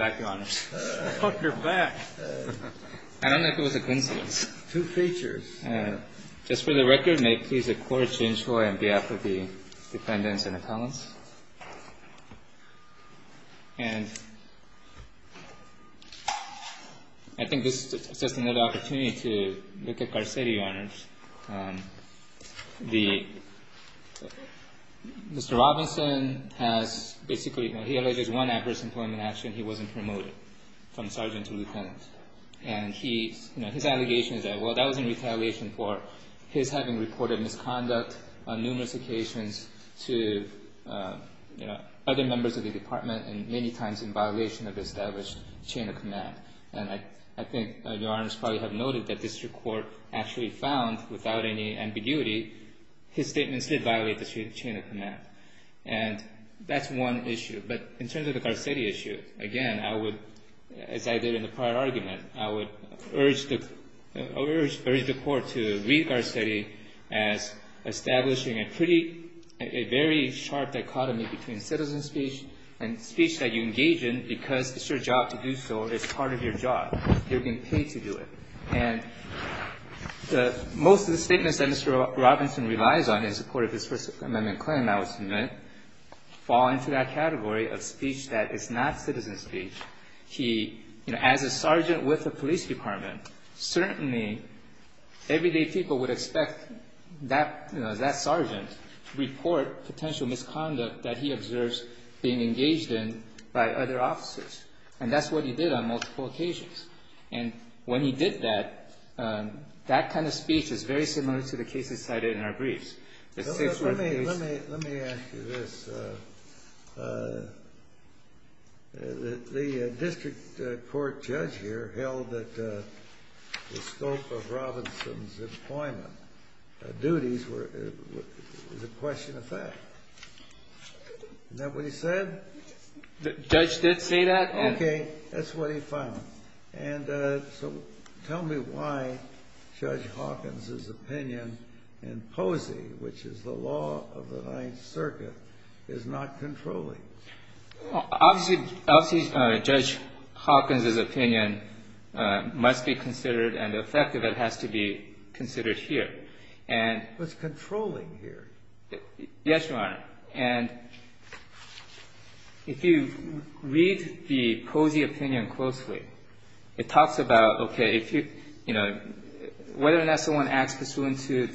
I don't know if it was a coincidence. Just for the record, may it please the Court to enjoy on behalf of the defendants and appellants. And I think this is just another opportunity to look at Garcetti, Your Honors. Mr. Robinson has basically, he alleges one adverse employment action. He wasn't promoted from sergeant to lieutenant. And his allegation is that, well, that was in retaliation for his having reported misconduct on numerous occasions to other members of the department and many times in violation of established chain of command. And I think Your Honors probably have noted that district court actually found, without any ambiguity, his statements did violate the chain of command. And that's one issue. But in terms of the Garcetti issue, again, I would, as I did in the prior argument, I would urge the Court to read Garcetti as establishing a pretty, a very sharp dichotomy between citizen speech and speech that you engage in because it's your job to do so. It's part of your job. You're being paid to do it. And most of the statements that Mr. Robinson relies on in support of his First Amendment claim, I would submit, fall into that category of speech that is not citizen speech. As a sergeant with the police department, certainly everyday people would expect that sergeant to report potential misconduct that he observes being engaged in by other officers. And that's what he did on multiple occasions. And when he did that, that kind of speech is very similar to the cases cited in our briefs. Let me ask you this. The district court judge here held that the scope of Robinson's employment duties was a question of fact. Isn't that what he said? The judge did say that. Okay. That's what he found. And so tell me why Judge Hawkins's opinion in Posey, which is the law of the Ninth Circuit, is not controlling. Obviously, Judge Hawkins's opinion must be considered, and the effect of it has to be considered here. But it's controlling here. Yes, Your Honor. And if you read the Posey opinion closely, it talks about, okay, if you, you know, whether or not someone acts pursuant to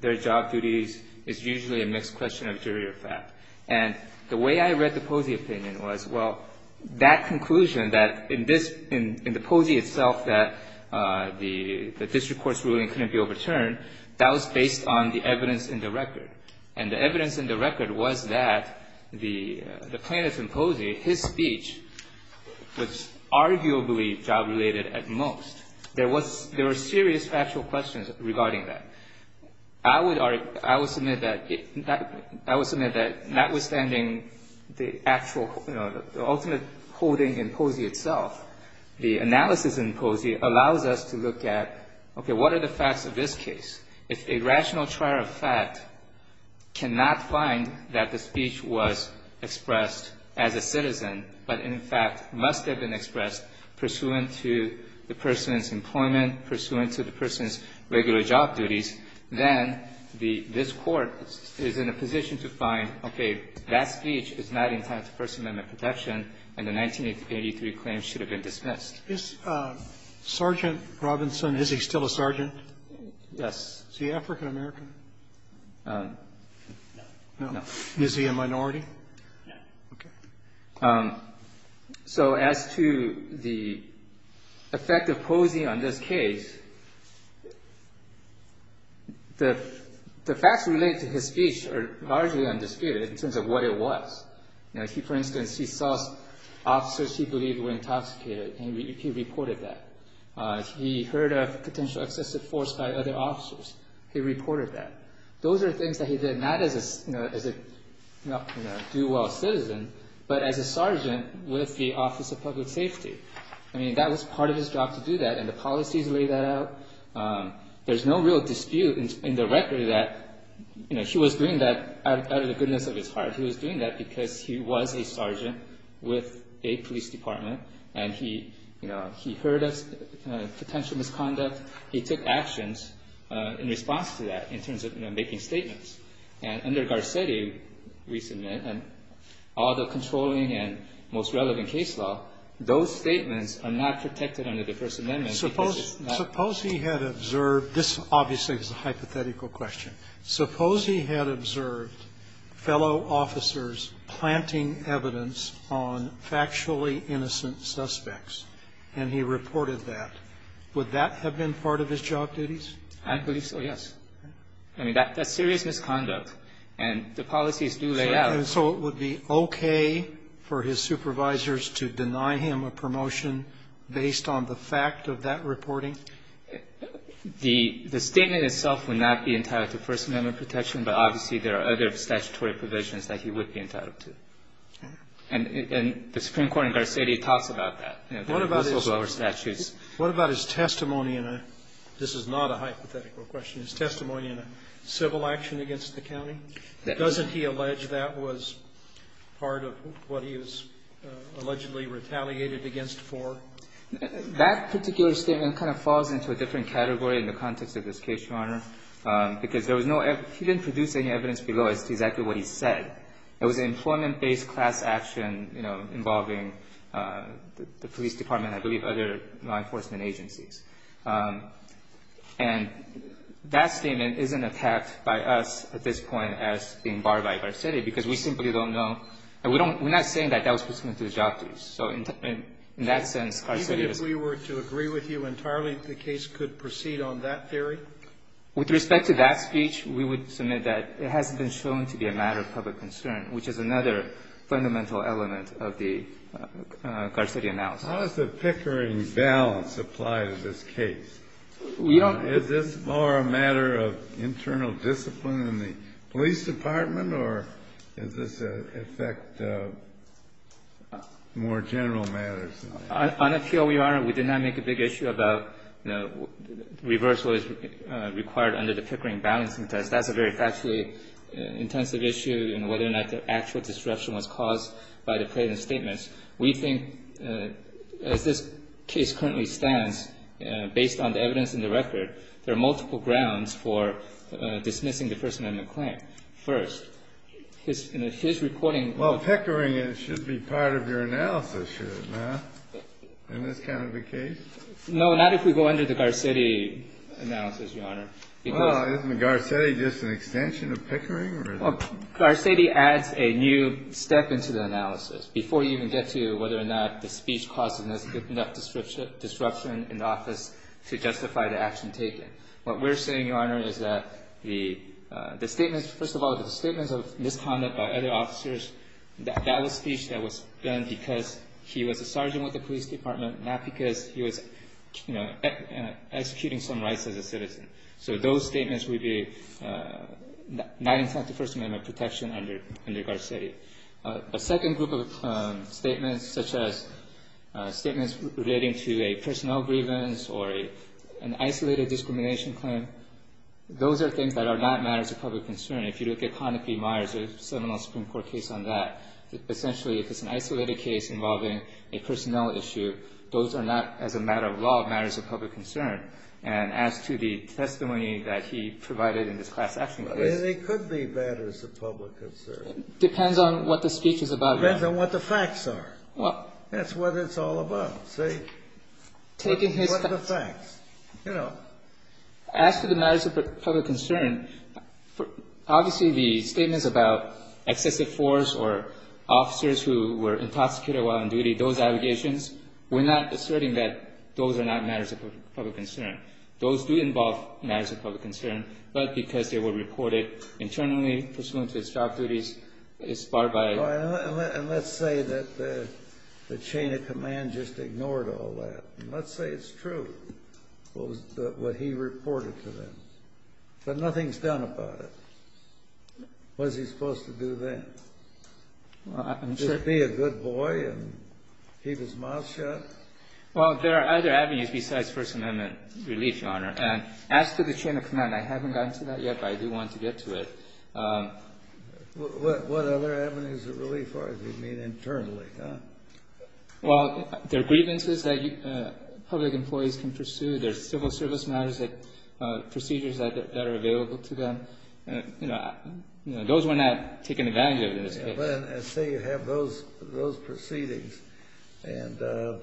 their job duties is usually a mixed question of jury or fact. And the way I read the Posey opinion was, well, that conclusion that in this, in the Posey itself that the district court's ruling couldn't be overturned, that was based on the evidence in the record. And the evidence in the record was that the plaintiff in Posey, his speech was arguably job-related at most. There was, there were serious factual questions regarding that. I would argue, I would submit that, I would submit that notwithstanding the actual, you know, the ultimate holding in Posey itself, the analysis in Posey allows us to look at, okay, what are the facts of this case? If a rational trier of fact cannot find that the speech was expressed as a citizen, but in fact must have been expressed pursuant to the person's employment, pursuant to the person's regular job duties, then the, this Court is in a position to find, okay, that speech is not entitled to First Amendment protection, and the 1983 claim should have been dismissed. Robertson, is he still a sergeant? Yes. Is he African-American? No. Is he a minority? No. Okay. So as to the effect of Posey on this case, the facts related to his speech are largely undisputed in terms of what it was. You know, he, for instance, he saw officers he believed were intoxicated, and he reported that. He heard of potential excessive force by other officers. He reported that. Those are things that he did not as a do-well citizen, but as a sergeant with the Office of Public Safety. I mean, that was part of his job to do that, and the policies laid that out. There's no real dispute in the record that, you know, he was doing that out of the goodness of his heart. He was doing that because he was a sergeant with a police department, and he, you know, he heard of potential misconduct. He took actions in response to that in terms of, you know, making statements. And under Garcetti, recently, and all the controlling and most relevant case law, those statements are not protected under the First Amendment because it's not. Suppose he had observed this. Obviously, it's a hypothetical question. Suppose he had observed fellow officers planting evidence on factually innocent suspects, and he reported that. Would that have been part of his job duties? I believe so, yes. I mean, that's serious misconduct, and the policies do lay out. So it would be okay for his supervisors to deny him a promotion based on the fact of that reporting? The statement itself would not be entitled to First Amendment protection, but obviously there are other statutory provisions that he would be entitled to. And the Supreme Court in Garcetti talks about that. What about his statutes? What about his testimony in a – this is not a hypothetical question – his testimony in a civil action against the county? Doesn't he allege that was part of what he was allegedly retaliated against for? That particular statement kind of falls into a different category in the context of this case, Your Honor, because there was no – he didn't produce any evidence below as to exactly what he said. It was an employment-based class action, you know, involving the police department and I believe other law enforcement agencies. And that statement isn't attacked by us at this point as being barred by Garcetti because we simply don't know. And we don't – we're not saying that that was pursuant to his job duties. So in that sense, Garcetti is – Even if we were to agree with you entirely, the case could proceed on that theory? With respect to that speech, we would submit that it hasn't been shown to be a matter of public concern, which is another fundamental element of the Garcetti analysis. How does the Pickering balance apply to this case? We don't – Is this more a matter of internal discipline in the police department or does this affect more general matters? On appeal, Your Honor, we did not make a big issue about, you know, reversal is required under the Pickering balancing test. That's a very factually intensive issue in whether or not the actual disruption was caused by the plaintiff's statements. We think, as this case currently stands, based on the evidence in the record, there are multiple grounds for dismissing the First Amendment claim. First, his – you know, his reporting – That's part of your analysis here, isn't it, in this kind of a case? No, not if we go under the Garcetti analysis, Your Honor, because – Well, isn't the Garcetti just an extension of Pickering? Well, Garcetti adds a new step into the analysis before you even get to whether or not the speech causes enough disruption in the office to justify the action taken. What we're saying, Your Honor, is that the statements – first of all, the statements of misconduct by other officers, that was speech that was done because he was a sergeant with the police department, not because he was, you know, executing some rights as a citizen. So those statements would be not in fact the First Amendment protection under Garcetti. A second group of statements, such as statements relating to a personnel grievance or an isolated discrimination claim, those are things that are not matters of public concern. If you look at Conopy Meyers' Seminole Supreme Court case on that, essentially if it's an isolated case involving a personnel issue, those are not, as a matter of law, matters of public concern. And as to the testimony that he provided in this class action case – But it could be matters of public concern. Depends on what the speech is about, Your Honor. Depends on what the facts are. Well – That's what it's all about, see? Taking his – What are the facts? You know. As to the matters of public concern, obviously the statements about excessive force or officers who were intoxicated while on duty, those allegations, we're not asserting that those are not matters of public concern. Those do involve matters of public concern, but because they were reported internally pursuant to its job duties, it's barred by – And let's say that the chain of command just ignored all that. Let's say it's true. What he reported to them. But nothing's done about it. What is he supposed to do then? Just be a good boy and keep his mouth shut? Well, there are other avenues besides First Amendment relief, Your Honor. And as to the chain of command, I haven't gotten to that yet, but I do want to get to it. What other avenues of relief are there? You mean internally, huh? Well, there are grievances that public employees can pursue. There are civil service matters, procedures that are available to them. Those we're not taking advantage of in this case. Let's say you have those proceedings, and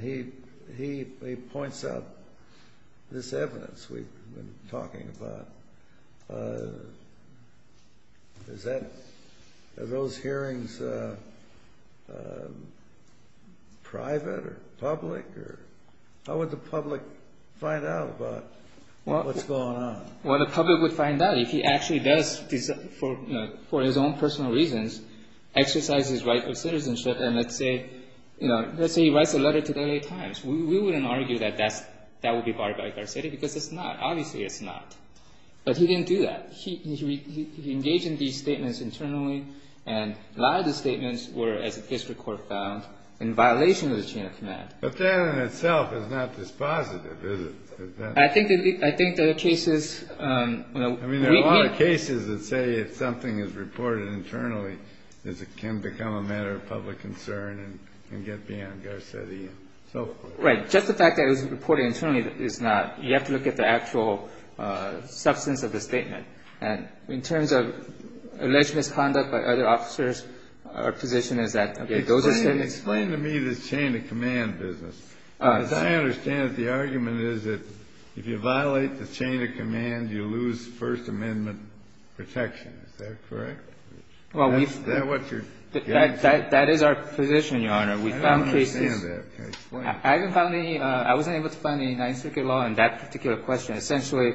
he points out this evidence we've been talking about. Are those hearings private or public? How would the public find out about what's going on? Well, the public would find out if he actually does, for his own personal reasons, exercise his right of citizenship. And let's say he writes a letter to the L.A. Times. We wouldn't argue that that would be barred by Garcetti because it's not. Obviously it's not. But he didn't do that. He engaged in these statements internally, and a lot of the statements were, as the district court found, in violation of the chain of command. But that in itself is not dispositive, is it? I think there are cases. I mean, there are a lot of cases that say if something is reported internally, it can become a matter of public concern and get beyond Garcetti and so forth. Right. Just the fact that it was reported internally is not. You have to look at the actual substance of the statement. And in terms of alleged misconduct by other officers, our position is that those are statements. Explain to me this chain of command business. As I understand it, the argument is that if you violate the chain of command, you lose First Amendment protection. Is that correct? Well, we've. Is that what you're getting at? That is our position, Your Honor. We found cases. I don't understand that. Explain. I haven't found any. I wasn't able to find any Ninth Circuit law on that particular question. Essentially,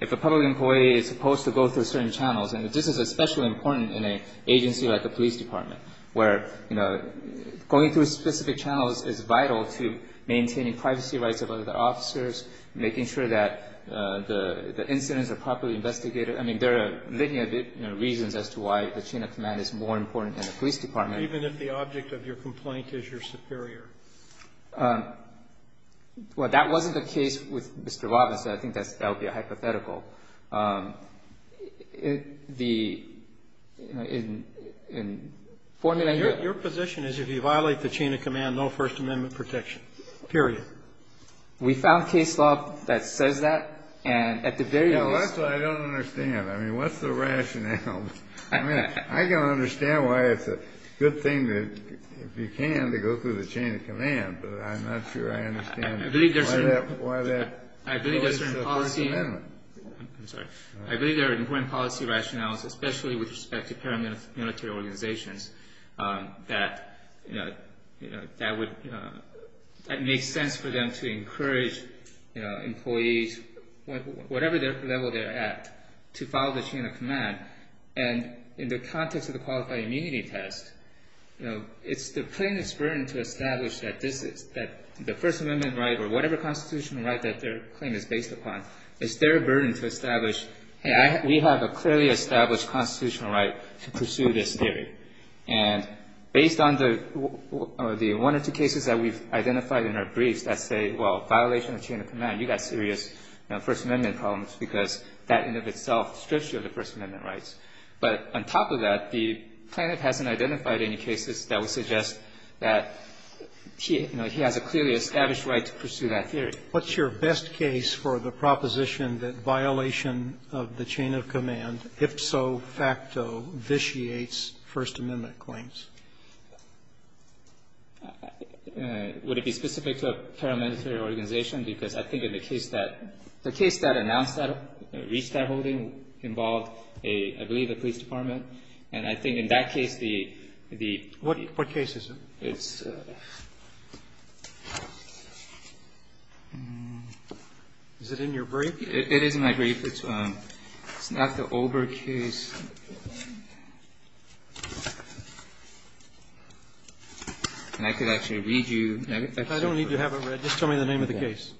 if a public employee is supposed to go through certain channels and this is especially important in an agency like a police department, where, you know, going through specific channels is vital to maintaining privacy rights of other officers, making sure that the incidents are properly investigated. I mean, there are many reasons as to why the chain of command is more important than the police department. Even if the object of your complaint is your superior? Well, that wasn't the case with Mr. Robinson. I think that would be a hypothetical. The formula here. Your position is if you violate the chain of command, no First Amendment protection, period. We found case law that says that, and at the very least. That's what I don't understand. I mean, what's the rationale? I mean, I don't understand why it's a good thing to, if you can, to go through the chain of command, but I'm not sure I understand why that is a First Amendment. I'm sorry. I believe there are important policy rationales, especially with respect to paramilitary organizations, that make sense for them to encourage employees, whatever level they're at, to follow the chain of command. And in the context of the qualified immunity test, it's the plaintiff's burden to establish that the First Amendment right, or whatever constitutional right that their claim is based upon, is their burden to establish, hey, we have a clearly established constitutional right to pursue this theory. And based on the one or two cases that we've identified in our briefs that say, well, violation of chain of command, you've got serious First Amendment problems, because that in and of itself strips you of the First Amendment rights. But on top of that, the plaintiff hasn't identified any cases that would suggest that, you know, he has a clearly established right to pursue that theory. What's your best case for the proposition that violation of the chain of command, if so facto, vitiates First Amendment claims? Would it be specific to a paramilitary organization? Because I think in the case that, the case that announced that, reached that holding, involved a, I believe a police department. And I think in that case the, the. What case is it? It's. Is it in your brief? It is in my brief. It's not the Olber case. And I could actually read you. I don't need to have it read. Just tell me the name of the case.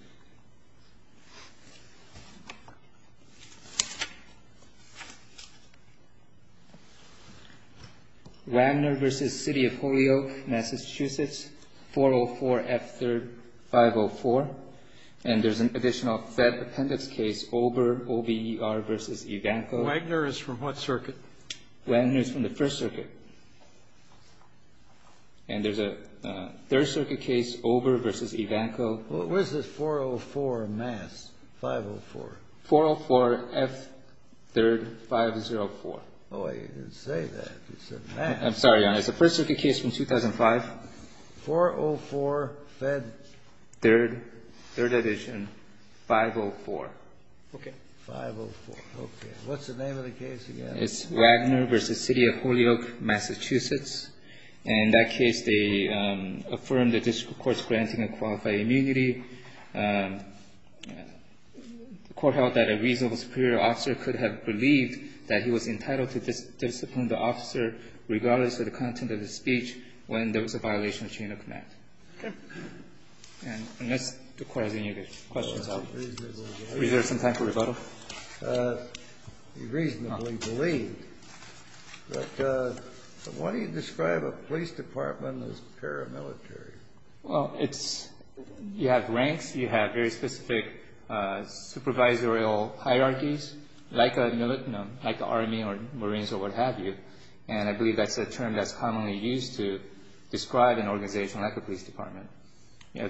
Wagner v. City of Holyoke, Massachusetts, 404 F. 3rd, 504. And there's an additional Fed appendix case, Olber, OBER v. Ivanko. Wagner is from what circuit? Wagner is from the First Circuit. And there's a Third Circuit case, Olber v. Ivanko. Where's the 404 mass, 504? 404 F. 3rd, 504. Oh, you didn't say that. You said mass. I'm sorry, Your Honor. It's a First Circuit case from 2005. 404 Fed. Third. Third edition, 504. Okay. 504. Okay. What's the name of the case again? It's Wagner v. City of Holyoke, Massachusetts. And in that case, they affirmed the district court's granting a qualified immunity. The court held that a reasonable superior officer could have believed that he was entitled to discipline the officer regardless of the content of the speech when there was a violation of chain of command. Okay. Unless the Court has any questions. Is there some time for rebuttal? He reasonably believed. But why do you describe a police department as paramilitary? Well, it's you have ranks, you have very specific supervisorial hierarchies, like the Army or Marines or what have you. And I believe that's a term that's commonly used to describe an organization like a police department. You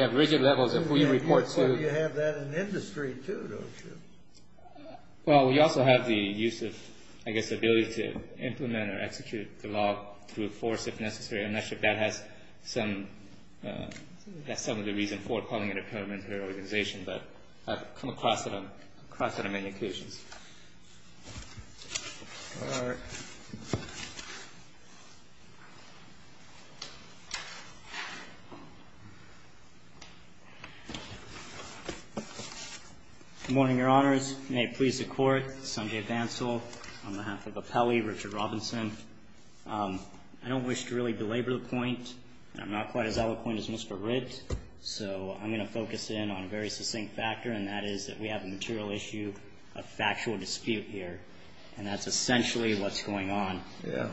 have rigid levels of who you report to. Well, you have that in industry, too, don't you? Well, we also have the use of, I guess, ability to implement or execute the law through force if necessary. And I think that has some of the reason for calling it a paramilitary organization. But I've come across it on many occasions. All right. Good morning, Your Honors. May it please the Court. Sanjay Bansal on behalf of Appelli, Richard Robinson. I don't wish to really belabor the point, and I'm not quite as eloquent as Mr. Ritt. So I'm going to focus in on a very succinct factor, and that is that we have a material issue, a factual dispute here, and that's essentially what's going on. Yeah.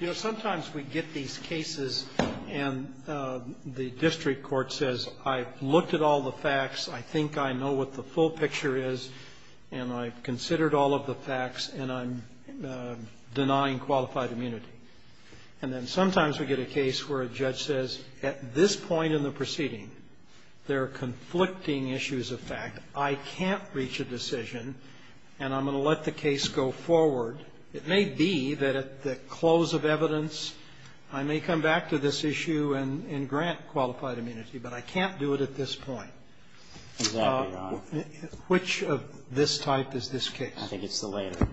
You know, sometimes we get these cases and the district court says, I've looked at all the facts, I think I know what the full picture is, and I've considered all of the facts, and I'm denying qualified immunity. And then sometimes we get a case where a judge says, at this point in the proceeding there are conflicting issues of fact, I can't reach a decision, and I'm going to let the case go forward. It may be that at the close of evidence I may come back to this issue and grant qualified immunity, but I can't do it at this point. Exactly, Your Honor. Which of this type is this case? I think it's the later.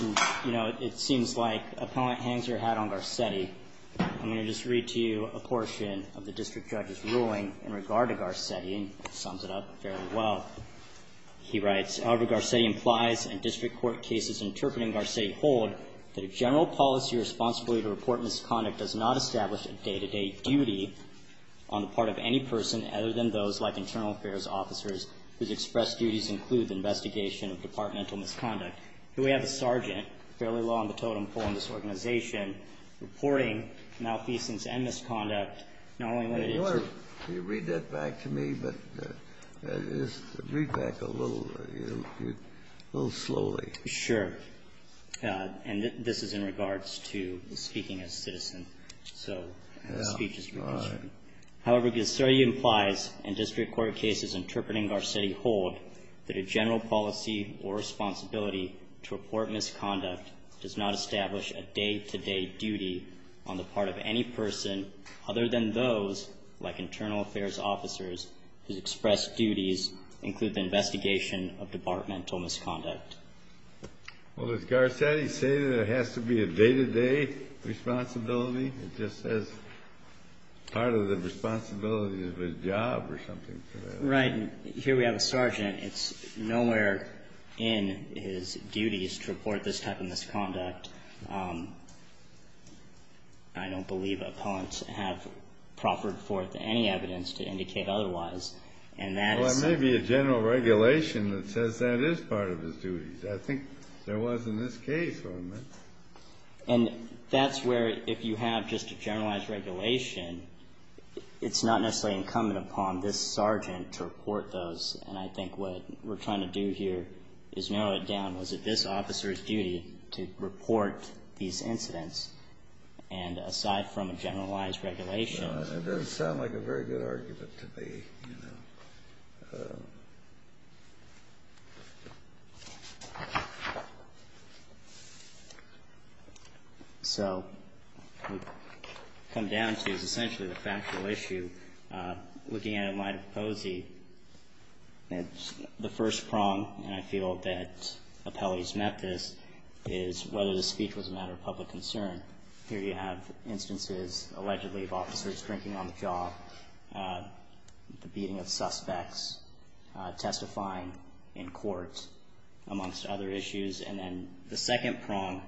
You know, it seems like Appelli hangs her hat on Garcetti. I'm going to just read to you a portion of the district judge's ruling in regard to Garcetti, and it sums it up fairly well. He writes, As Albert Garcetti implies, and district court cases interpreting Garcetti hold, that a general policy responsibility to report misconduct does not establish a day-to-day duty on the part of any person other than those, like internal affairs officers, whose expressed duties include the investigation of departmental misconduct. Here we have a sergeant, fairly law in the totem pole in this organization, reporting malfeasance and misconduct, not only when it is true. I'm going to read back a little, a little slowly. Sure. And this is in regards to speaking as a citizen. Yeah. So the speech is your question. All right. However, Garcetti implies, and district court cases interpreting Garcetti hold, that a general policy or responsibility to report misconduct does not establish a day-to-day duty on the part of any person other than those, like internal affairs officers, whose expressed duties include the investigation of departmental misconduct. Well, does Garcetti say that it has to be a day-to-day responsibility? It just says part of the responsibility is his job or something. Right. And here we have a sergeant. It's nowhere in his duties to report this type of misconduct. I don't believe appellants have proffered forth any evidence to indicate otherwise. And that is so. Well, there may be a general regulation that says that is part of his duties. I think there was in this case. And that's where, if you have just a generalized regulation, it's not necessarily incumbent upon this sergeant to report those. And I think what we're trying to do here is narrow it down. Was it this officer's duty to report these incidents? And aside from a generalized regulation. It doesn't sound like a very good argument to me. So what we've come down to is essentially the factual issue. Looking at it in light of Posey, it's the first prong. And I feel that appellees met this, is whether the speech was a matter of public concern. Here you have instances, allegedly, of officers drinking on the job, the beating of suspects, testifying in court, amongst other issues. And then the second prong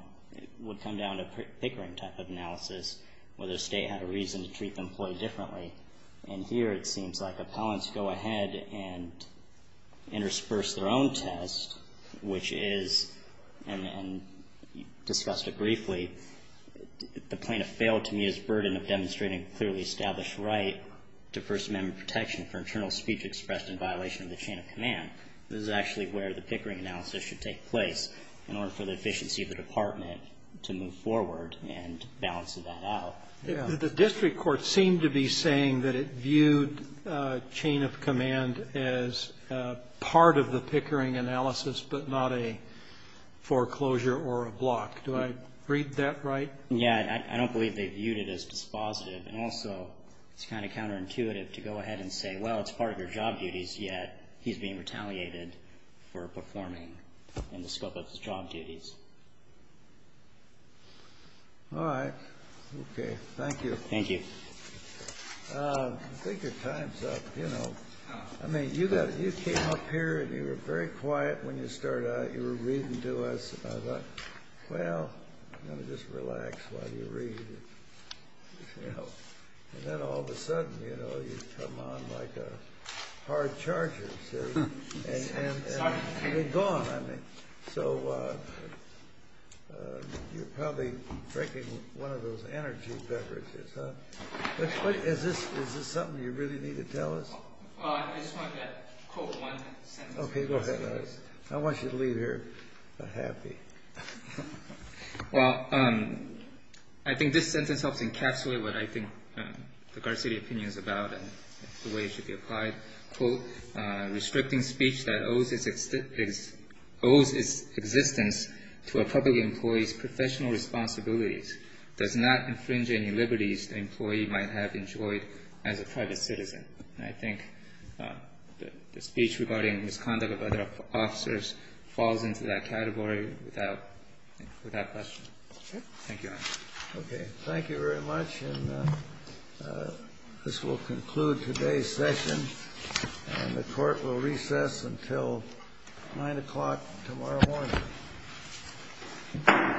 would come down to pickering type of analysis, whether the state had a reason to treat the employee differently. And here it seems like appellants go ahead and intersperse their own test, which is, and discussed it briefly, the plaintiff failed to meet his burden of demonstrating clearly established right to First Amendment protection for internal speech expressed in violation of the chain of command. This is actually where the pickering analysis should take place in order for the efficiency of the department to move forward and balance that out. The district court seemed to be saying that it viewed chain of command as part of the pickering analysis, but not a foreclosure or a block. Do I read that right? Yeah. I don't believe they viewed it as dispositive. And also it's kind of counterintuitive to go ahead and say, well, it's part of your job duties, yet he's being retaliated for performing in the scope of his job duties. All right. Okay. Thank you. Thank you. I think your time's up. You know, I mean, you came up here and you were very quiet when you started out. You were reading to us. I thought, well, I'm going to just relax while you read. And then all of a sudden, you know, you come on like a hard charger. And you're gone. So you're probably drinking one of those energy beverages. Is this something you really need to tell us? I just want to quote one sentence. Okay. Go ahead. I want you to leave here happy. Well, I think this sentence helps encapsulate what I think the Garcetti opinion is about and the way it should be applied. Restricting speech that owes its existence to a public employee's professional responsibilities does not infringe any liberties the employee might have enjoyed as a private citizen. And I think the speech regarding misconduct of other officers falls into that category without question. Thank you. Okay. Thank you very much. This will conclude today's session. And the court will recess until 9 o'clock tomorrow morning.